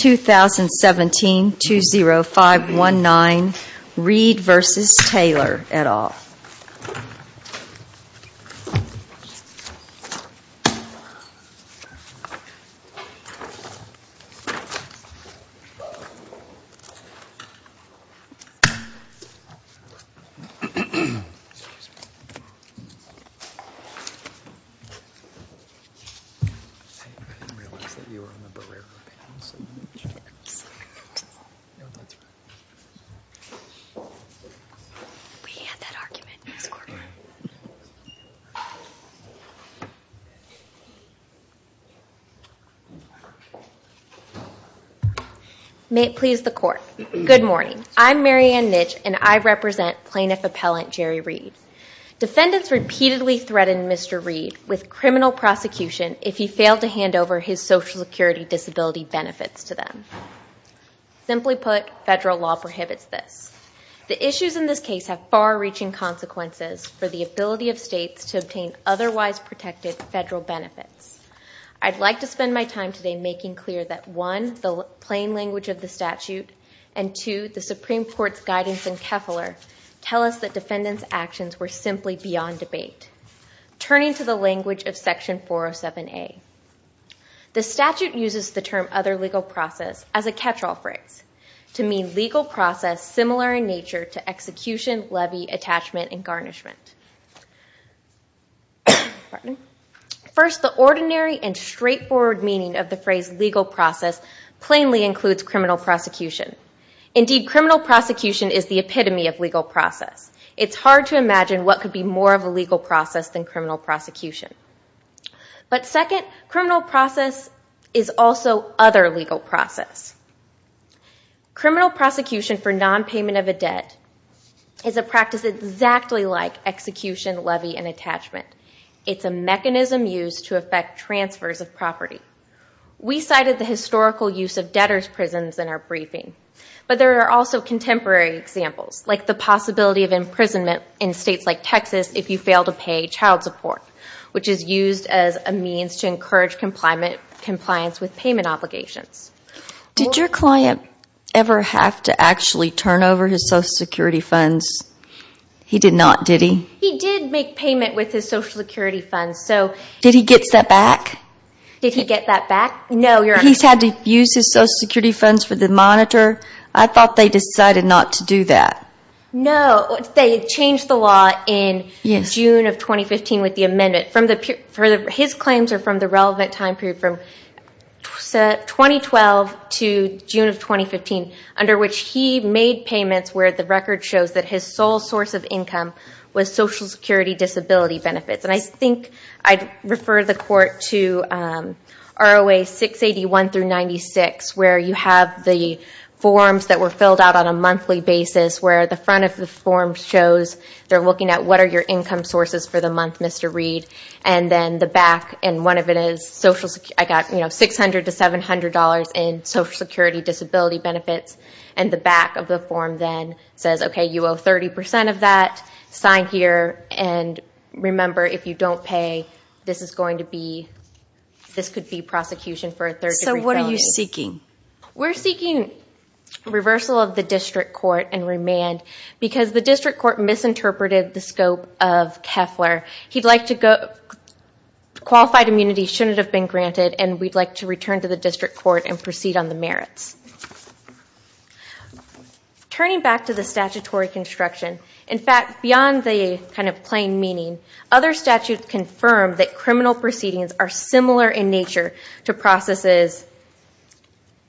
2017-20519 Reed v. Taylor et al. Good morning. I'm Mary Ann Nitsch and I represent Plaintiff Appellant Jerry Reed. Defendants repeatedly threatened Mr. Reed with criminal prosecution if he failed to hand over his son. Simply put, federal law prohibits this. The issues in this case have far-reaching consequences for the ability of states to obtain otherwise protected federal benefits. I'd like to spend my time today making clear that one, the plain language of the statute, and two, the Supreme Court's guidance in Keflar tell us that defendants' actions were simply beyond debate. Turning to the language of Section 407A, the statute uses the term other legal process as a catch-all phrase to mean legal process similar in nature to execution, levy, attachment, and garnishment. First, the ordinary and straightforward meaning of the phrase legal process plainly includes criminal prosecution. Indeed, criminal prosecution is the epitome of legal process. It's hard to imagine what could be more of a legal process than criminal prosecution. But second, criminal process is also other legal process. Criminal prosecution for non-payment of a debt is a practice exactly like execution, levy, and attachment. It's a mechanism used to effect transfers of property. We cited the historical use of debtor's prisons in our briefing, but there are also contemporary examples, like the possibility of imprisonment in states like Texas if you fail to pay child support, which is used as a means to encourage compliance with payment obligations. Did your client ever have to actually turn over his Social Security funds? He did not, did he? He did make payment with his Social Security funds, so... Did he get that back? Did he get that back? No, Your Honor. He's had to use his Social Security funds for the monitor. I thought they decided not to do that. No, they changed the law in June of 2015 with the amendment. His claims are from the relevant time period from 2012 to June of 2015, under which he made payments where the record shows that his sole source of income was Social Security disability benefits. I think I'd refer the Court to ROA 681-96, where you have the forms that were filled out on a monthly basis, where the front of the form shows, they're looking at what are your income sources for the month, Mr. Reed, and then the back, and one of it is, I got $600 to $700 in Social Security disability benefits, and the back of the form then says, okay, you owe 30 percent of that, sign here, and remember, if you don't pay, this is going to be, this could be prosecution for a third degree felony. So what are you seeking? We're seeking reversal of the District Court and remand, because the District Court misinterpreted the scope of Keffler. Qualified immunity shouldn't have been granted, and we'd like to return to the District Court and proceed on the merits. Turning back to the statutory construction, in fact, beyond the kind of plain meaning, other statutes confirm that criminal proceedings are similar in nature to processes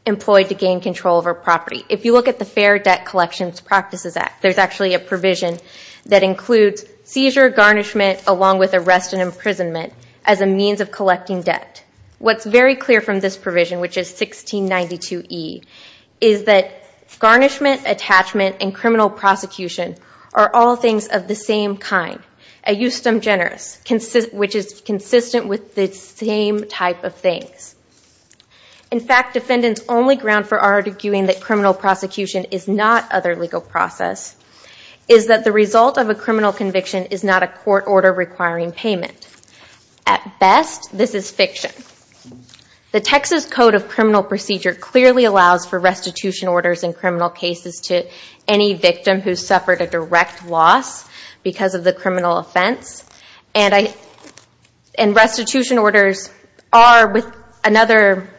employed to gain control over property. If you look at the Fair Debt Collections Practices Act, there's actually a provision that includes seizure, garnishment, along with arrest and imprisonment as a means of collecting debt. What's very clear from this provision, which is 1692E, is that garnishment, attachment, and criminal prosecution are all things of the same kind, a justem generis, which is consistent with the same type of things. In fact, defendants' only ground for arguing that criminal prosecution is not other legal process is that the result of a criminal conviction is not a court order requiring payment. At best, this is fiction. The Texas Code of Criminal Procedure clearly allows for restitution orders in criminal cases to any victim who suffered a direct loss because of the criminal offense. Restitution orders are, with another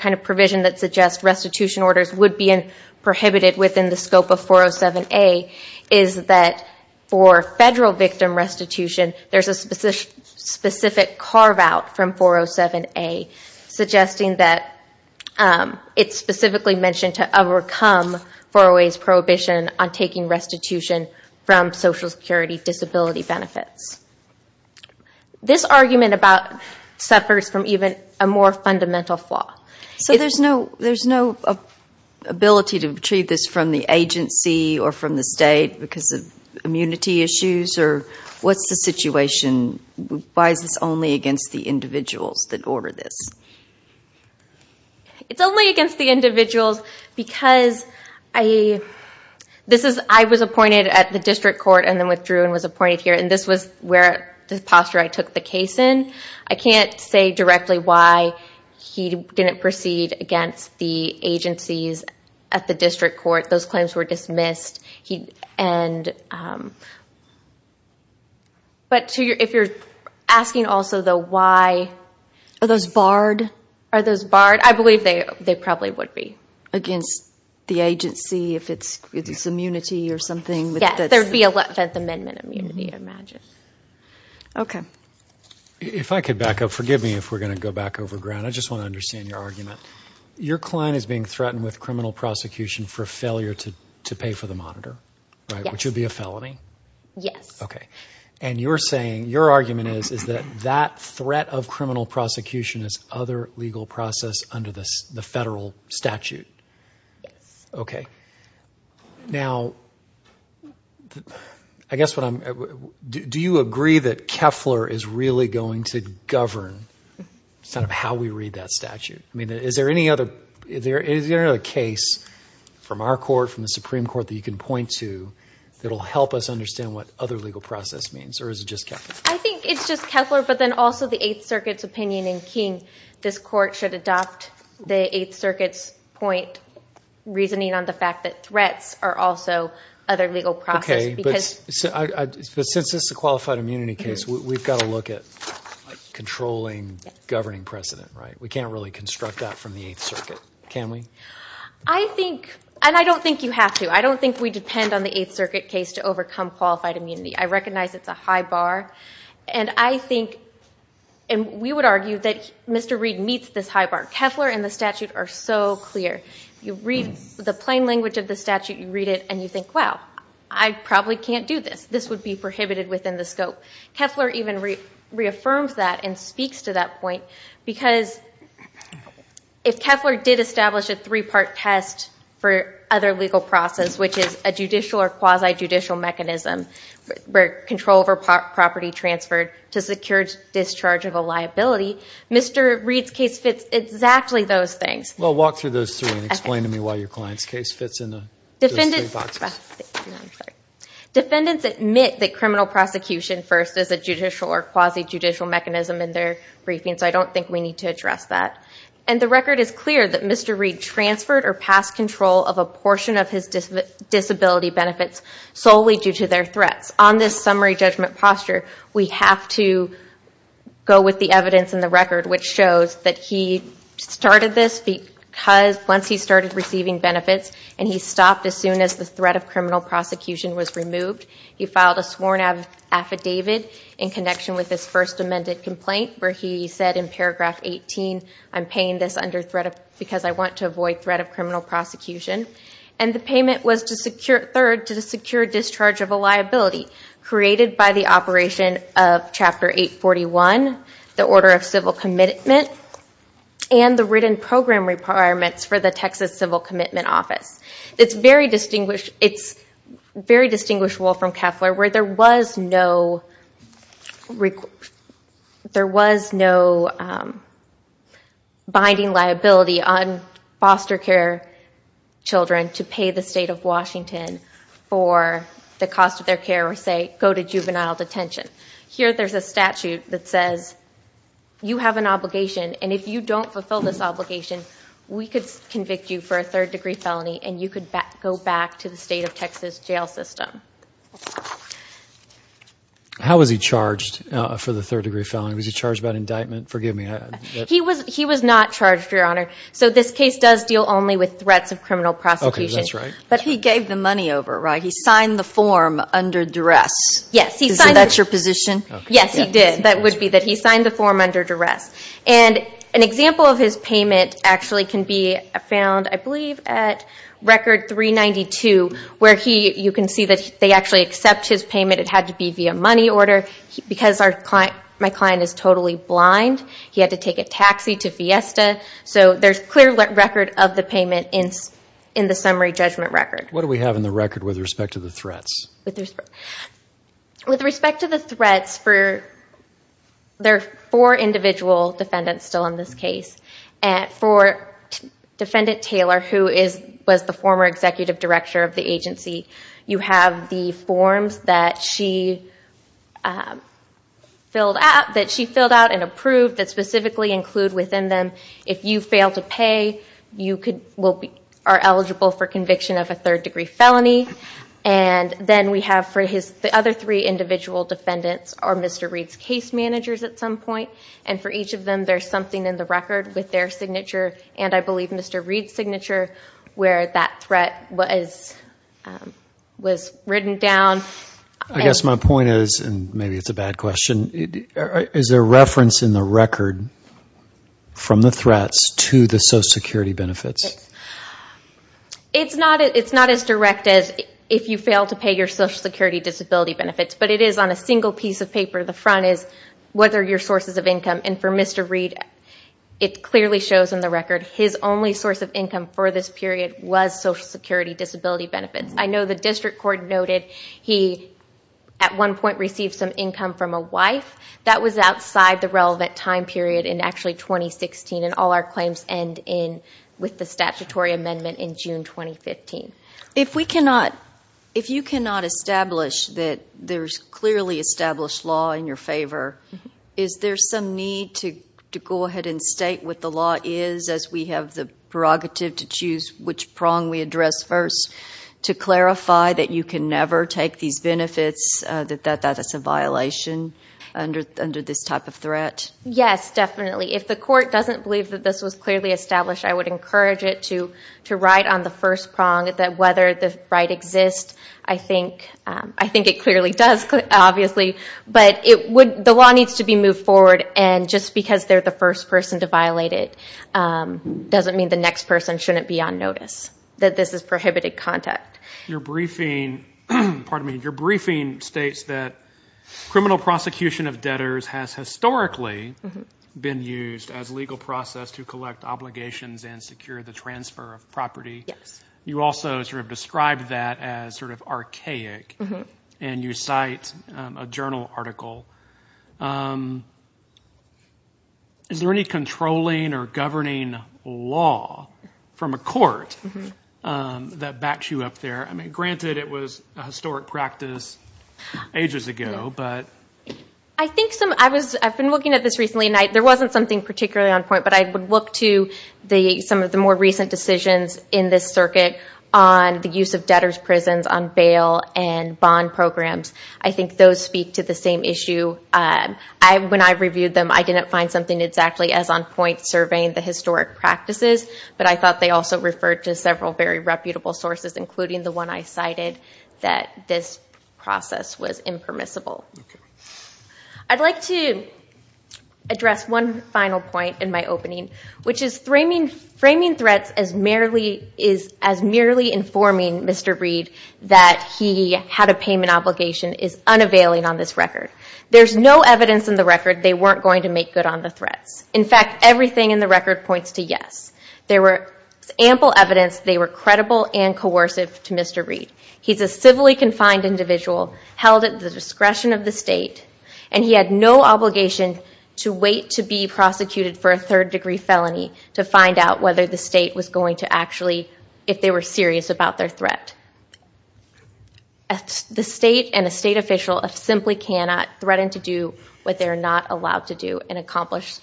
kind of provision that suggests restitution orders would be prohibited within the scope of 407A, is that for federal victim restitution, there's a specific carve-out from 407A, suggesting that it's specifically mentioned to overcome 408's prohibition on taking restitution from Social Security disability benefits. This argument about suffers from even a more fundamental flaw. So there's no ability to retrieve this from the agency or from the state because of immunity issues or what's the situation? Why is this only against the individuals that order this? It's only against the individuals because I was appointed at the district court and then withdrew and was appointed here and this was the posture I took the case in. I can't say directly why he didn't proceed against the agencies at the district court. Those claims were dismissed. Are those barred? I believe they probably would be against the agency if it's immunity or something. Yes, there would be Eleventh Amendment immunity, I imagine. If I could back up, forgive me if we're going to go back over ground. I just want to understand your argument. Your client is being threatened with criminal prosecution for failure to pay for the monitor, which would be a felony. Your argument is that threat of criminal prosecution is other legal process under the federal statute. Do you agree that Keffler is really going to govern how we read that statute? Is there any other case from our court, from the Supreme Court, that you can point to that will help us understand what other legal process means or is it just Keffler? I think it's just Keffler, but then also the Eighth Circuit's opinion in King. This court should adopt the Eighth Circuit's point, reasoning on the fact that threats are also other legal process. Since this is a qualified immunity case, we've got to look at controlling governing precedent. We can't really construct that from the Eighth Circuit, can we? I don't think you have to. I don't think we depend on the Eighth Circuit case to overcome qualified immunity. I recognize it's a high bar. We would argue that Mr. Reed meets this high bar. Keffler and the statute are so clear. You read the plain language of the statute, you read it, and you think, wow, I probably can't do this. This would be prohibited within the scope. Keffler even reaffirms that and speaks to that point, because if Keffler did establish a three-part test for other legal process, which is a judicial or quasi-judicial mechanism where control over property transferred to secure discharge of a liability, Mr. Reed's case fits exactly those things. Well, walk through those three and explain to me why your client's case fits in those three boxes. Defendants admit that criminal prosecution first is a judicial or quasi-judicial mechanism in their briefings. I don't think we need to address that. The record is clear that Mr. Reed transferred or passed control of a portion of his disability benefits solely due to their threats. On this summary judgment posture, we have to go with the evidence in the record, which shows that he started this because once he started receiving benefits and he stopped as soon as the threat of criminal prosecution was removed. He filed a sworn affidavit in connection with his first amended complaint where he said in paragraph 18, I'm paying this because I want to avoid threat of criminal prosecution. And the payment was to secure, third, to secure discharge of a liability created by the operation of chapter 841, the order of civil commitment, and the written program requirements for the Texas Civil Commitment Office. It's very distinguishable from Keffler where there was no binding liability on foster care children to pay the state of Washington for the cost of their care or say go to juvenile detention. Here there's a statute that says you have an obligation and if you don't fulfill this obligation, we could convict you for a third degree felony and you could go back to the state of Texas jail system. How was he charged for the third degree felony? Was he charged by indictment? Forgive me. He was not charged, Your Honor. So this case does deal only with threats of criminal prosecution. Okay, that's right. But he gave the money over, right? He signed the form under duress. Yes. So that's your position? Yes, he did. That would be that he signed the form under duress. And an example of his payment actually can be found, I believe, at record 392 where you can see that they actually accept his payment. It had to be via money order because my client is totally blind. He had to take a taxi to Fiesta. So there's clear record of the payment in the summary judgment record. What do we have in the record with respect to the threats? With respect to the threats, there are four individual defendants still in this case. For Defendant Taylor, who was the former executive director of the agency, you have the forms that she filled out and approved that specifically include within them, if you fail to pay, you then we have for the other three individual defendants are Mr. Reed's case managers at some point. And for each of them, there's something in the record with their signature and I believe Mr. Reed's signature where that threat was written down. I guess my point is, and maybe it's a bad question, is there reference in the record from the threats to the Social Security benefits? It's not as direct as if you fail to pay your Social Security disability benefits, but it is on a single piece of paper. The front is, what are your sources of income? And for Mr. Reed, it clearly shows in the record, his only source of income for this period was Social Security disability benefits. I know the district court noted he at one point received some income from a wife. That was outside the relevant time period in actually 2016 and all our claims end in with the statutory amendment in June 2015. If we cannot, if you cannot establish that there's clearly established law in your favor, is there some need to go ahead and state what the law is as we have the prerogative to choose which prong we address first to clarify that you can never take these benefits, that that Yes, definitely. If the court doesn't believe that this was clearly established, I would encourage it to write on the first prong that whether the right exists. I think it clearly does, obviously, but the law needs to be moved forward and just because they're the first person to violate it doesn't mean the next person shouldn't be on notice, that this is prohibited contact. Your briefing, pardon me, your briefing states that criminal prosecution of debtors has historically been used as legal process to collect obligations and secure the transfer of property. You also sort of described that as sort of archaic and you cite a journal article. Is there any I mean, granted it was a historic practice ages ago, but I think some, I was, I've been looking at this recently and there wasn't something particularly on point, but I would look to the, some of the more recent decisions in this circuit on the use of debtors prisons on bail and bond programs. I think those speak to the same issue. When I reviewed them, I didn't find something exactly as on point surveying the historic practices, but I thought they also referred to several very reputable sources, including the one I cited, that this process was impermissible. I'd like to address one final point in my opening, which is framing threats as merely, is as merely informing Mr. Reed that he had a payment obligation is unavailing on this record. There's no evidence in the record they weren't going to make good on the threats. In fact, everything in the to Mr. Reed. He's a civilly confined individual held at the discretion of the state and he had no obligation to wait to be prosecuted for a third degree felony to find out whether the state was going to actually, if they were serious about their threat. The state and a state official simply cannot threaten to do what they're not allowed to do and accomplish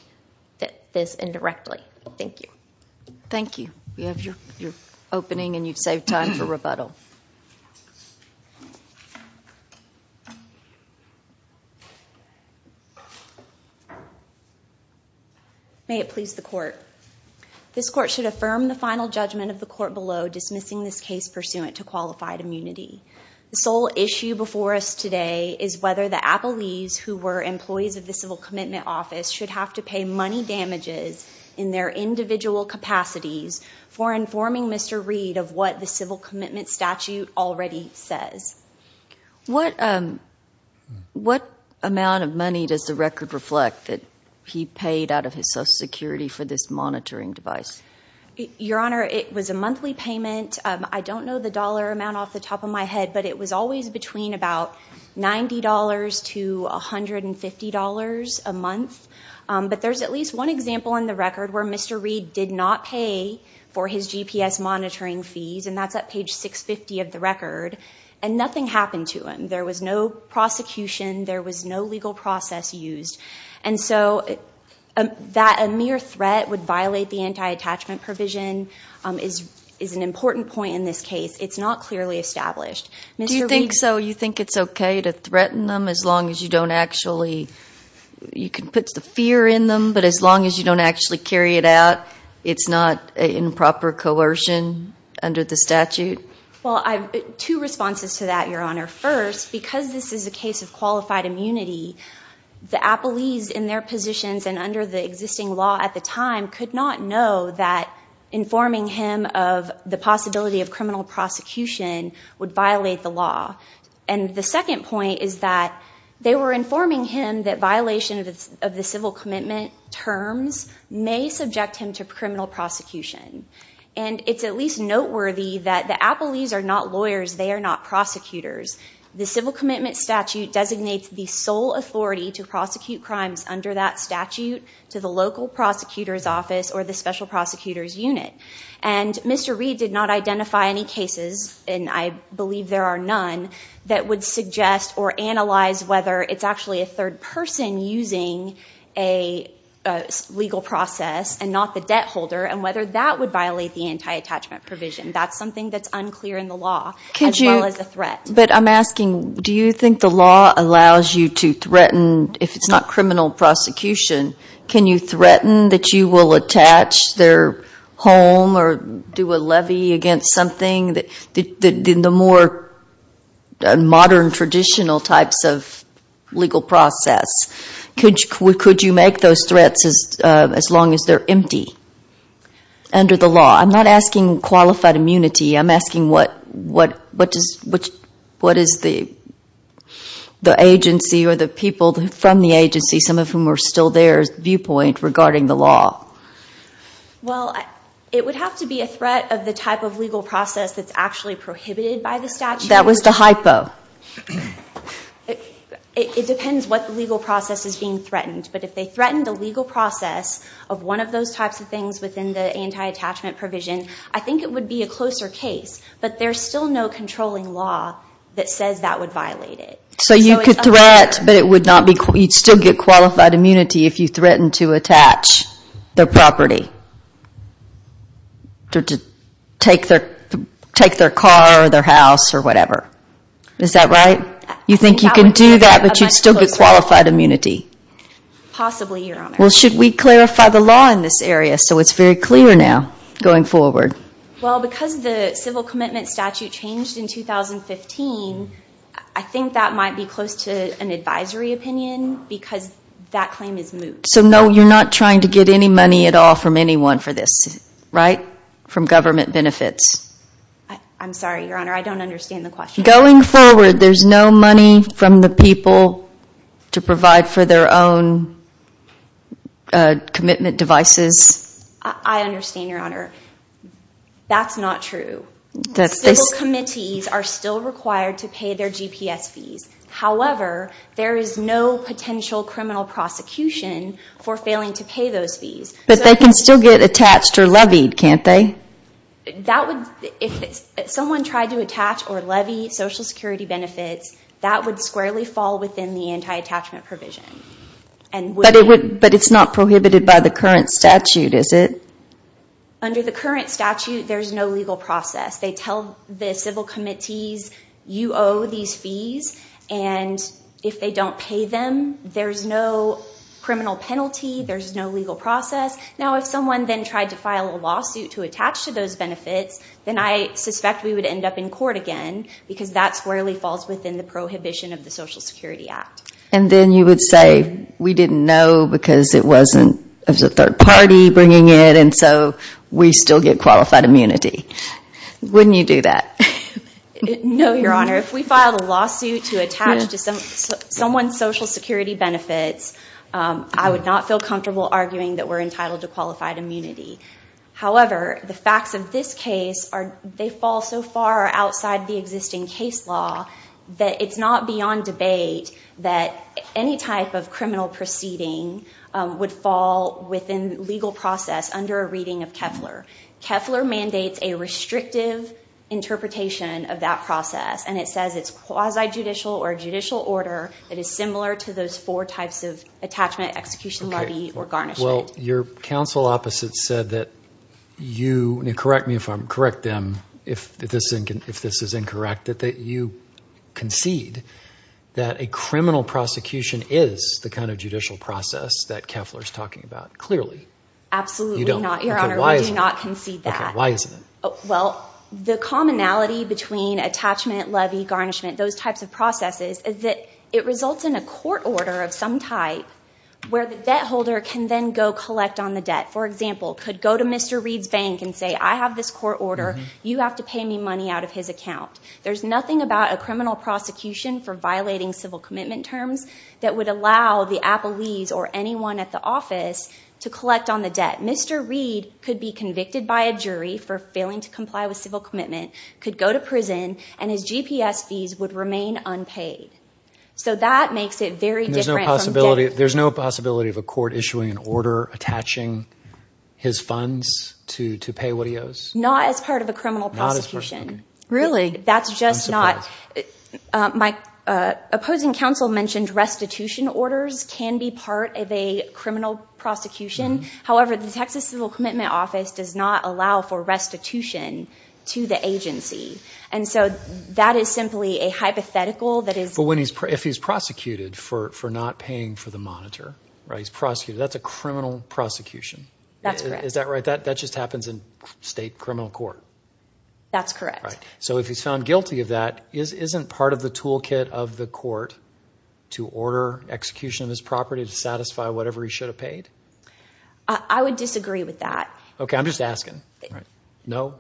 that this indirectly. Thank you. Thank you. You have your opening and you've saved time for rebuttal. May it please the court. This court should affirm the final judgment of the court below dismissing this case pursuant to qualified immunity. The sole issue before us today is whether the Appellees, who were employees of the Civil Commitment Office, should have to pay money damages in their individual capacities for informing Mr. Reed of what the Civil Commitment statute already says. What amount of money does the record reflect that he paid out of his social security for this monitoring device? Your Honor, it was a monthly payment. I don't know the dollar amount off the top of my head, but it was always between about $90 to $150 a month. But there's at least one example in the record where Mr. Reed did not pay for his GPS monitoring fees, and that's at page 650 of the record, and nothing happened to him. There was no prosecution. There was no legal process used. And so that a mere threat would violate the anti-attachment provision is an important point in this case. It's not clearly established. Do you think it's okay to threaten them as long as you don't actually, you can put the fear in them, but as long as you don't actually carry it out, it's not improper coercion under the statute? Two responses to that, Your Honor. First, because this is a case of qualified immunity, the Appellees in their positions and under the existing law at the time could not know that informing him of the possibility of criminal prosecution would violate the law. And the second point is that they were informing him that violation of the civil commitment terms may subject him to criminal prosecution. And it's at least noteworthy that the Appellees are not lawyers. They are not prosecutors. The civil commitment statute designates the sole authority to prosecute crimes under that statute to the local prosecutor's office or the special prosecutor's unit. And Mr. Reed did not identify any cases, and I believe there are none, that would suggest or analyze whether it's actually a third person using a legal process and not the debt holder and whether that would violate the anti-attachment provision. That's something that's unclear in the law as well as a threat. But I'm asking, do you think the law allows you to threaten, if it's not criminal prosecution, can you threaten that you will attach their home or do a levy against something? In the more modern traditional types of legal process, could you make those threats as long as they're empty under the law? I'm not asking qualified immunity. I'm asking what is the agency or the people from the agency, some of whom are still there, viewpoint regarding the law? Well, it would have to be a threat of the type of legal process that's actually prohibited by the statute. That was the hypo. It depends what legal process is being threatened. But if they threatened a legal process of one of those types of things within the anti-attachment provision, I think it would be a closer case. But there's still no controlling law that says that would violate it. So you could threat, but you'd still get qualified immunity if you threatened to attach their property or to take their car or their house or whatever. Is that right? You think you can do that, but you'd still get qualified immunity? Possibly, Your Honor. Well, should we clarify the law in this area so it's very clear now going forward? Well, because the civil commitment statute changed in 2015, I think that might be close to an advisory opinion because that claim is moved. So no, you're not trying to get any money at all from anyone for this, right? From government benefits? I'm sorry, Your Honor. I don't understand the question. Going forward, there's no money from the people to provide for their own commitment devices? I understand, Your Honor. That's not true. Civil committees are still required to pay their GPS fees. However, there is no potential criminal prosecution for failing to pay those fees. But they can still get attached or levied, can't they? If someone tried to attach or levy Social Security benefits, that would squarely fall within the anti-attachment provision. But it's not prohibited by the current statute, is it? Under the current statute, there's no legal process. They tell the civil committees, you owe these fees, and if they don't pay them, there's no criminal penalty, there's no legal process. Now, if someone then tried to file a lawsuit to attach to those benefits, then I suspect we would end up in court again because that squarely falls within the prohibition of the Social Security Act. And then you would say, we didn't know because it wasn't a third party bringing it, and so we still get qualified immunity. Wouldn't you do that? No, Your Honor. If we filed a lawsuit to attach to someone's Social Security benefits, I would not feel comfortable arguing that we're entitled to qualified immunity. However, the facts of this case fall so far outside the existing case law that it's not beyond debate that any type of criminal proceeding would fall within legal process under a reading of Keffler. Keffler mandates a restrictive interpretation of that process, and it says it's quasi-judicial or judicial order that is similar to those four types of attachment, execution, levy, or garnishment. Your counsel opposite said that you—correct me if I'm—correct them if this is incorrect—that you concede that a criminal prosecution is the kind of judicial process that Keffler is talking about. Clearly, you don't. Absolutely not, Your Honor. We do not concede that. Why is that? Well, the commonality between attachment, levy, garnishment, those types of processes is that it results in a court order of some type where the debt holder can then go collect on the debt. For example, could go to Mr. Reed's bank and say, I have this court order. You have to pay me money out of his account. There's nothing about a criminal prosecution for violating civil commitment terms that would allow the appellees or anyone at the office to collect on the debt. Mr. Reed could be convicted by a jury for failing to comply with civil commitment, could go to prison, and his GPS fees would remain unpaid. So that makes it very different from— There's no possibility of a court issuing an order attaching his funds to pay what he owes? Not as part of a criminal prosecution. Really? That's just not— I'm surprised. My opposing counsel mentioned restitution orders can be part of a criminal prosecution. However, the Texas Civil Commitment Office does not allow for restitution to the agency. And so that is simply a hypothetical that is— But if he's prosecuted for not paying for the monitor, right, he's prosecuted, that's a criminal prosecution. That's correct. Is that right? That just happens in state criminal court? That's correct. So if he's found guilty of that, isn't part of the toolkit of the court to order execution of his property to satisfy whatever he should have paid? I would disagree with that. Okay, I'm just asking. No?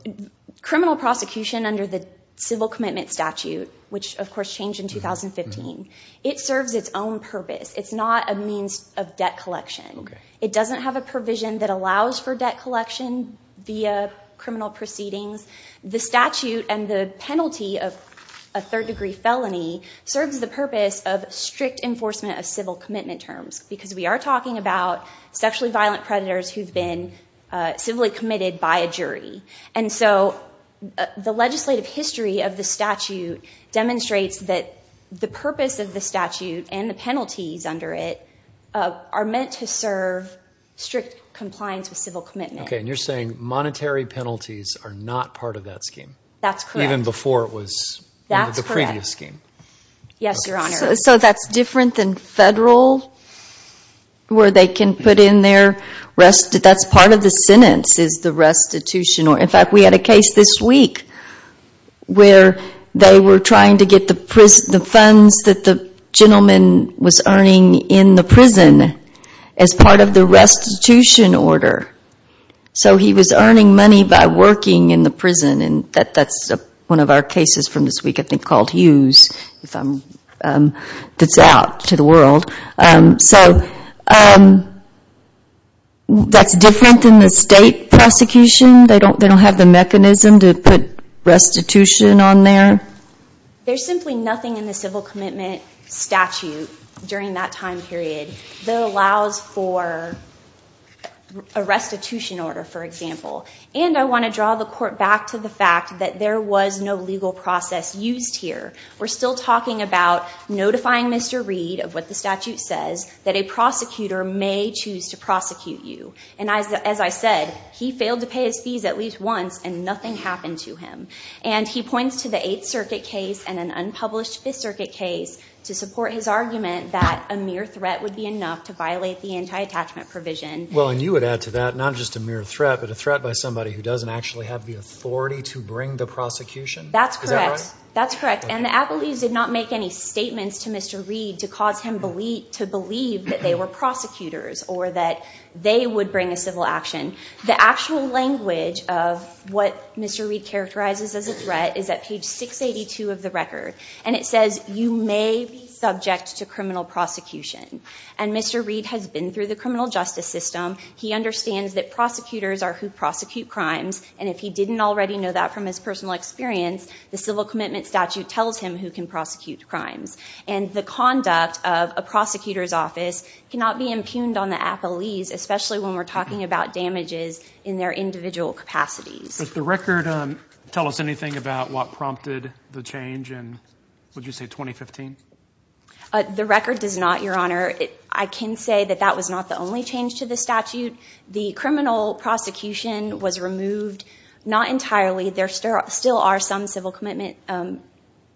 Criminal prosecution under the Civil Commitment Statute, which of course changed in 2015, it serves its own purpose. It's not a means of debt collection. It doesn't have a provision that allows for debt collection via criminal proceedings. The statute and the penalty of a third-degree felony serves the purpose of strict enforcement of civil commitment terms, because we are talking about sexually violent predators who've been civilly committed by a jury. And so the legislative history of the statute demonstrates that the purpose of the statute and the penalties under it are meant to serve strict compliance with civil commitment. Okay, and you're saying monetary penalties are not part of that scheme? That's correct. Even before it was part of the previous scheme? Yes, Your Honor. So that's different than federal, where they can put in their restitution. That's part of the sentence, is the restitution, or in fact, we had a case this week where they were trying to get the funds that the gentleman was earning in the prison as part of the restitution order. So he was earning money by working in the prison, and that's one of our cases from this week, I think, called Hughes, that's out to the world. So that's different than the state prosecution. They don't have the mechanism to put restitution on there? There's simply nothing in the civil commitment statute during that time period that allows for a restitution order, for example. And I want to draw the court back to the fact that there was no legal process used here. We're still talking about notifying Mr. Reed of what the statute says, that a prosecutor may choose to prosecute you. And as I said, he failed to pay his fees at least once, and nothing happened to him. And he points to the Eighth Circuit case and an unpublished Fifth Circuit case to support his argument that a mere threat would be enough to violate the anti-attachment provision. Well, and you would add to that, not just a mere threat, but a threat by somebody who doesn't actually have the authority to bring the prosecution? That's correct. That's correct. And the Appleby's did not make any statements to Mr. Reed to cause him to believe that they were prosecutors or that they would bring a civil action. The actual language of what Mr. Reed characterizes as a threat is at page 682 of the record. And it says, you may be subject to criminal prosecution. And Mr. Reed has been through the criminal justice system. He understands that prosecutors are who prosecute crimes. And if he didn't already know that from his personal experience, the civil commitment statute tells him who can prosecute crimes. And the conduct of a prosecutor's office cannot be impugned on the Appleby's, especially when we're talking about damages in their individual capacities. Does the record tell us anything about what prompted the change in, would you say, 2015? The record does not, Your Honor. I can say that that was not the only change to the statute. The criminal prosecution was removed, not entirely. There still are some civil commitment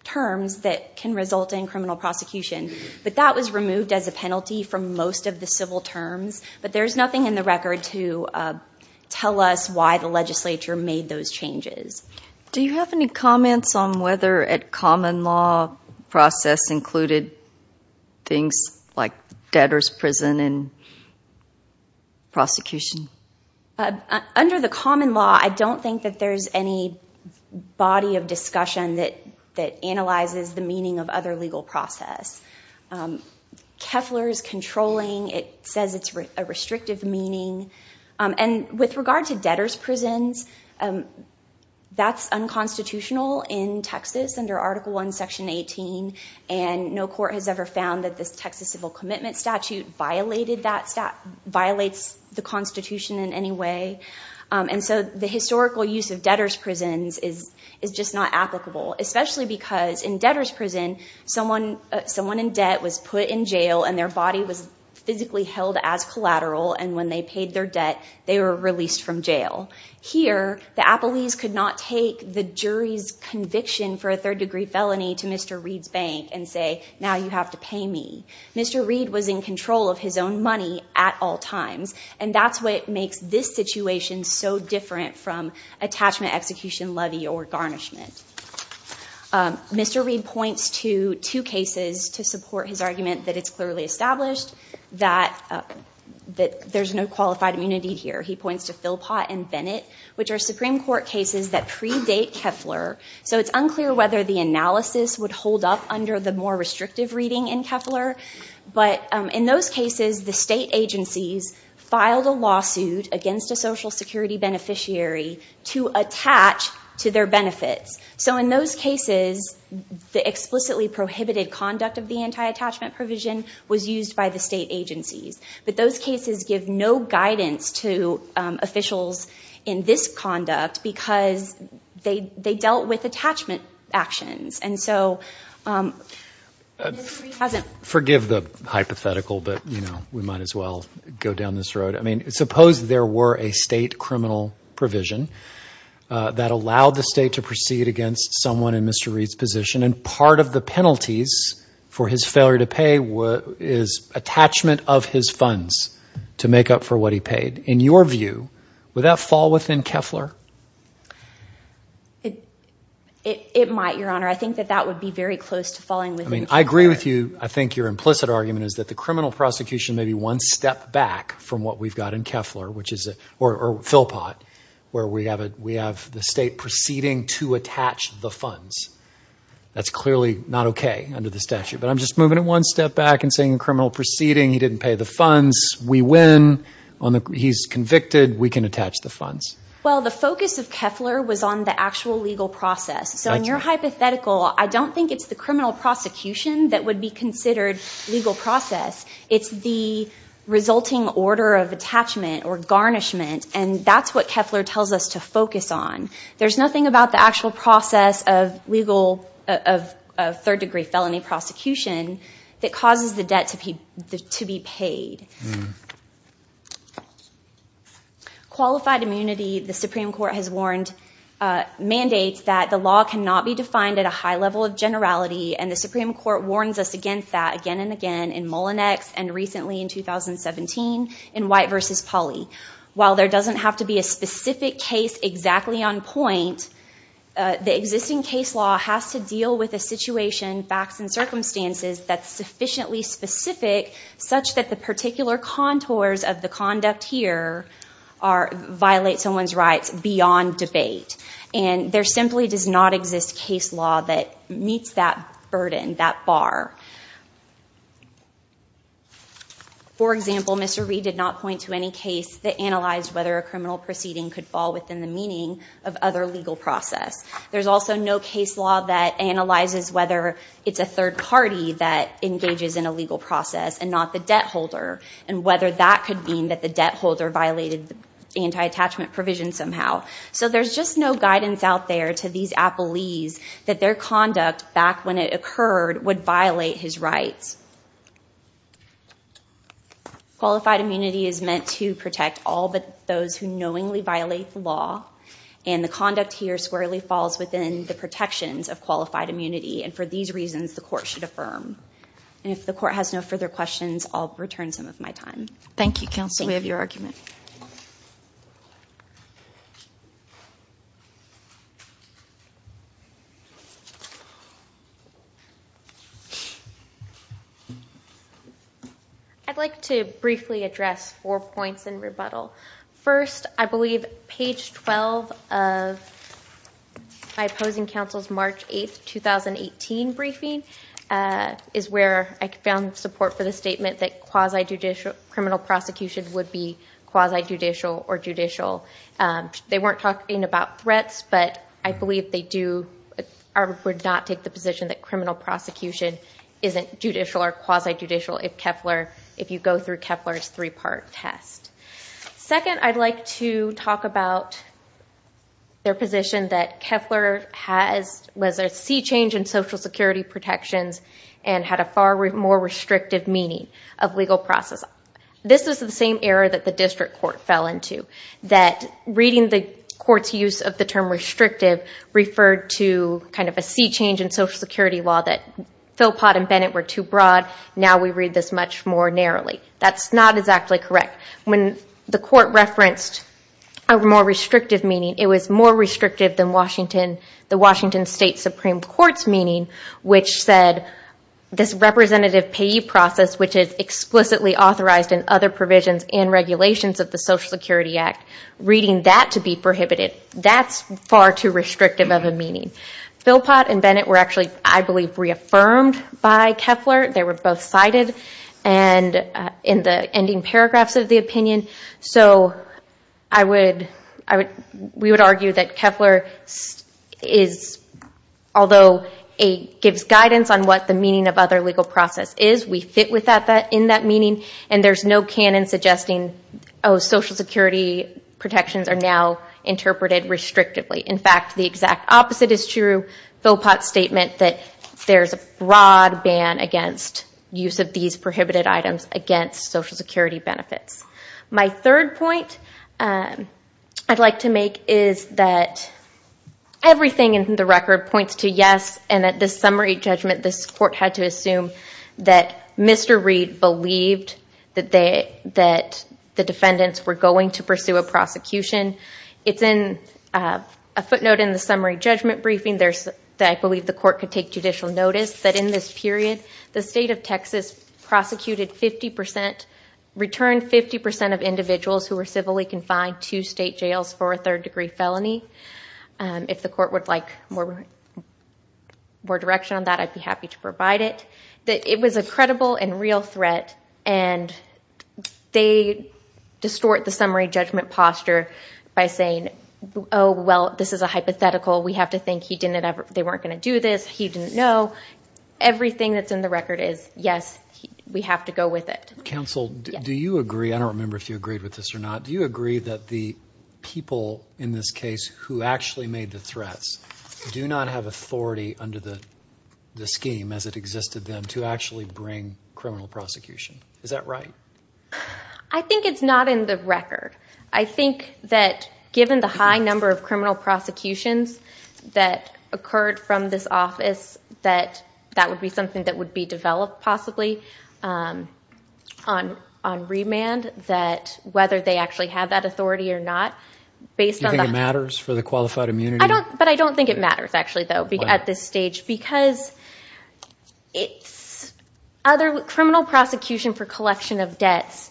terms that can result in criminal prosecution. But that was removed as a penalty from most of the civil terms. But there's nothing in the record to tell us why the legislature made those changes. Do you have any comments on whether a common law process included things like debtor's prison and prosecution? Under the common law, I don't think that there's any body of discussion that analyzes the meaning of other legal process. Keffler is controlling. It says it's a restrictive meaning. And with regard to debtor's prisons, that's unconstitutional in Texas under Article 1, Section 18. And no court has ever found that this Texas civil commitment statute violated that, violates the Constitution in any way. And so the historical use of debtor's prisons is just not applicable, especially because in debtor's prison, someone in debt was put in jail and their body was physically held as collateral. And when they paid their debt, they were released from jail. Here, the appellees could not take the jury's conviction for a third-degree felony to Mr. Reed's bank and say, now you have to pay me. Mr. Reed was in control of his own money at all times. And that's what makes this situation so different from attachment execution levy or garnishment. Mr. Reed points to two cases to support his argument that it's clearly established that there's no qualified immunity here. He points to Philpott and Bennett, which are Supreme Court cases that predate Keffler. So it's unclear whether the analysis would hold up under the more restrictive reading in Keffler. But in those cases, the state agencies filed a lawsuit against a Social Security beneficiary to attach to their benefits. So in those cases, the explicitly prohibited conduct of the anti-attachment provision was used by the state agencies. But those cases give no guidance to officials in this conduct because they dealt with attachment actions. Forgive the hypothetical, but we might as well go down this road. Suppose there were a state criminal provision that allowed the state to proceed against someone in Mr. Reed's position, and part of the penalties for his failure to pay is attachment of his funds to make up for what he paid. In your view, would that fall within Keffler? It might, Your Honor. I think that that would be very close to falling within Keffler. I agree with you. I think your implicit argument is that the criminal prosecution may be one step back from what we've got in Keffler, or Philpott, where we have the state proceeding to attach the funds. That's clearly not okay under the statute, but I'm just moving it one step back and saying criminal proceeding, he didn't pay the funds, we win, he's convicted, we can attach the funds. Well, the focus of Keffler was on the actual legal process. So in your hypothetical, I don't think it's the criminal prosecution that would be considered legal process. It's the resulting order of attachment or garnishment, and that's what Keffler tells us to focus on. There's nothing about the actual process of legal, of third degree felony prosecution that causes the debt to be paid. Qualified immunity, the Supreme Court has warned, mandates that the law cannot be defined at a high level of generality, and the Supreme Court warns us against that again and again in Mullinex and recently in 2017 in White v. Pauley. While there doesn't have to be a specific case exactly on point, the existing case law has to deal with a situation, facts, and circumstances that's sufficiently specific such that the particular contours of the conduct here violate someone's rights beyond debate, and there simply does not exist case law that meets that burden, that bar. For example, Mr. Reed did not point to any case that analyzed whether a criminal proceeding could fall within the meaning of other legal process. There's also no case law that analyzes whether it's a third party that engages in a legal process and not the debt holder, and whether that could mean that the debt holder violated the anti-attachment provision somehow. So there's just no guidance out there to these appellees that their conduct back when it occurred would violate his rights. Qualified immunity is meant to protect all but those who knowingly violate the law, and the conduct here squarely falls within the protections of qualified immunity, and for these reasons the court should affirm. And if the court has no further questions, I'll return some of my time. Thank you, counsel. We have your argument. I'd like to briefly address four points in rebuttal. First, I believe page 12 of my opposing counsel's March 8, 2018 briefing is where I found support for the statement that quasi-judicial criminal prosecution would be quasi-judicial or judicial. They weren't talking about threats, but I believe they would not take the position that criminal prosecution isn't judicial or quasi-judicial if you go through Kepler's three-part test. Second, I'd like to talk about their position that Kepler was a sea change in Social Security protections and had a far more restrictive meaning of legal process. This is the same error that the district court fell into, that reading the court's use of the term restrictive referred to kind of a sea change in Social Security law that Philpott and Bennett were too broad, now we read this much more narrowly. That's not exactly correct. When the court referenced a more restrictive meaning, it was more restrictive than the Washington State Supreme Court's meaning, which said this representative payee process, which is explicitly authorized in other provisions and regulations of the Social Security Act, reading that to be prohibited, that's far too restrictive of a meaning. Philpott and Bennett were actually, I believe, reaffirmed by Kepler. They were both cited in the ending paragraphs of the opinion. We would argue that Kepler, although it gives guidance on what the meaning of other legal process is, we fit in that meaning and there's no canon suggesting Social Security protections are now interpreted restrictively. In fact, the exact opposite is true, Philpott's statement that there's a broad ban against use of these prohibited items against Social Security benefits. My third point I'd like to make is that everything in the record points to yes and that this summary judgment, this court had to assume that Mr. Reed believed that the defendants were going to pursue a prosecution. It's in a footnote in the summary judgment briefing that I believe the court could take judicial notice that in this period, the State of Texas prosecuted 50%, returned 50% of individuals who were civilly confined to state jails for a third degree felony. If the court would like more direction on that, I'd be happy to provide it. It was a credible and real threat and they distort the summary judgment posture by saying, oh, well, this is a hypothetical. We have to think they weren't going to do this, he didn't know. Everything that's in the record is yes, we have to go with it. Counsel, do you agree, I don't remember if you agreed with this or not, do you agree that the people in this case who actually made the threats do not have authority under the scheme as it existed then to actually bring criminal prosecution? Is that right? I think it's not in the record. I think that given the high number of criminal prosecutions that occurred from this office, that would be something that would be developed possibly on remand, that whether they actually have that authority or not, based on the... Do you think it matters for the qualified immunity? I don't think it matters, actually, though, at this stage, because other criminal prosecution for collection of debts,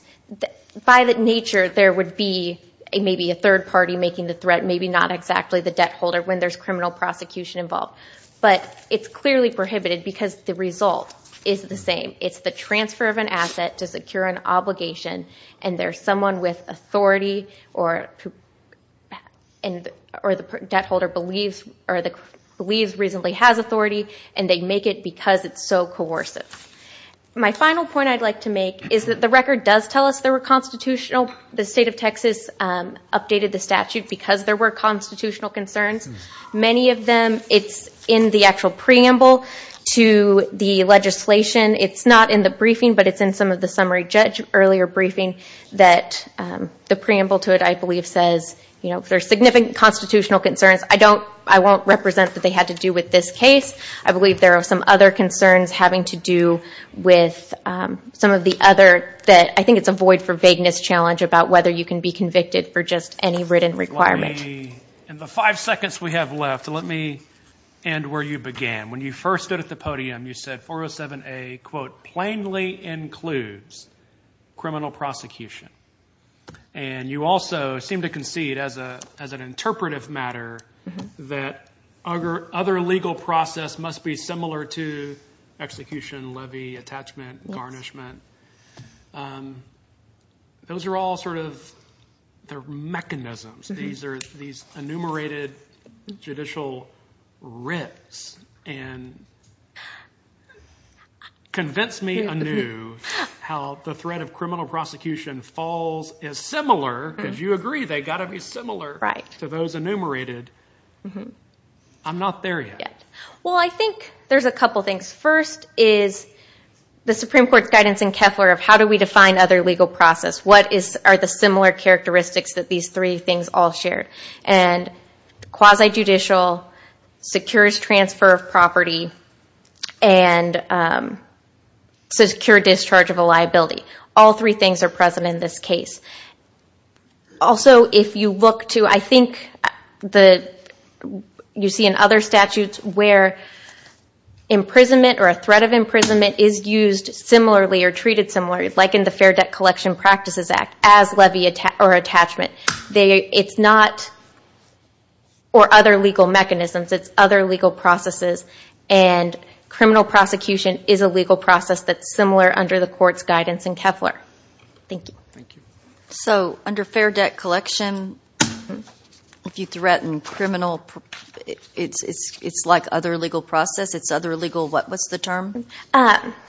by nature, there would be maybe a third party making the threat, maybe not exactly the debt holder when there's criminal prosecution involved, but it's clearly prohibited because the result is the same. It's the transfer of an asset to secure an obligation and there's someone with authority or the debt holder believes reasonably has authority and they make it because it's so coercive. My final point I'd like to make is that the record does tell us there were constitutional, the state of Texas updated the statute because there were constitutional concerns. Many of them, it's in the actual preamble to the legislation. It's not in the briefing, but it's in some of the summary judge earlier briefing that the preamble to it, I believe, says if there's significant constitutional concerns, I won't represent that they had to do with this case. I believe there are some other concerns having to do with some of the other that I think it's a void for vagueness challenge about whether you can be convicted for just any written requirement. In the five seconds we have left, let me end where you began. When you first stood at the podium, you said 407A, quote, plainly includes criminal prosecution. You also seem to concede as an interpretive matter that other legal process must be similar to execution, levy, attachment, garnishment. Those are all sort of, they're mechanisms. These are these enumerated judicial rips and convince me anew how the threat of criminal prosecution falls is similar, because you agree they got to be similar to those enumerated. I'm not there yet. Well, I think there's a couple of things. First is the Supreme Court's guidance in Keffler of how do we define other legal process? What are the similar characteristics that these three things all shared? Quasi-judicial secures transfer of property and secure discharge of a liability. All three things are present in this case. Also if you look to, I think you see in other statutes where imprisonment or a threat of imprisonment is used similarly or treated similarly, like in the Fair Debt Collection Practices Act, as levy or attachment. It's not, or other legal mechanisms, it's other legal processes and criminal prosecution is a legal process that's similar under the court's guidance in Keffler. Thank you. So under Fair Debt Collection, if you threaten criminal, it's like other legal process? It's other legal, what's the term?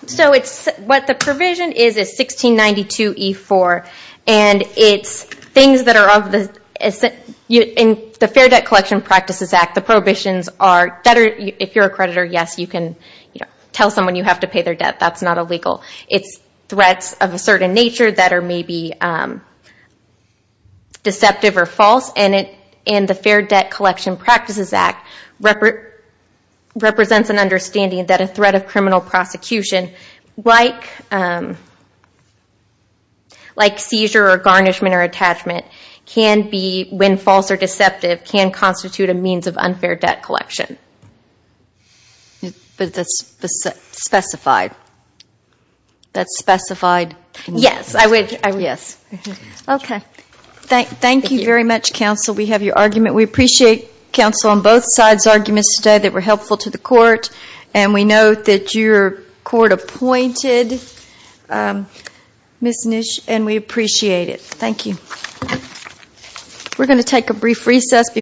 So it's, what the provision is, is 1692E4, and it's things that are of the, in the Fair Debt Collection Practices Act, the prohibitions are, if you're a creditor, yes you can tell someone you have to pay their debt, that's not illegal. It's threats of a certain nature that are maybe deceptive or false, and the Fair Debt Collection Practices Act represents an understanding that a threat of criminal prosecution, like seizure or garnishment or attachment, can be, when false or deceptive, can constitute a means of unfair debt collection. But that's specified? That's specified? Yes, I would, I would. Yes. Okay. Thank you very much counsel, we have your argument. We appreciate counsel on both sides' arguments today that were helpful to the court, and we know that your court appointed Ms. Nish, and we appreciate it. Thank you. We're going to take a brief recess.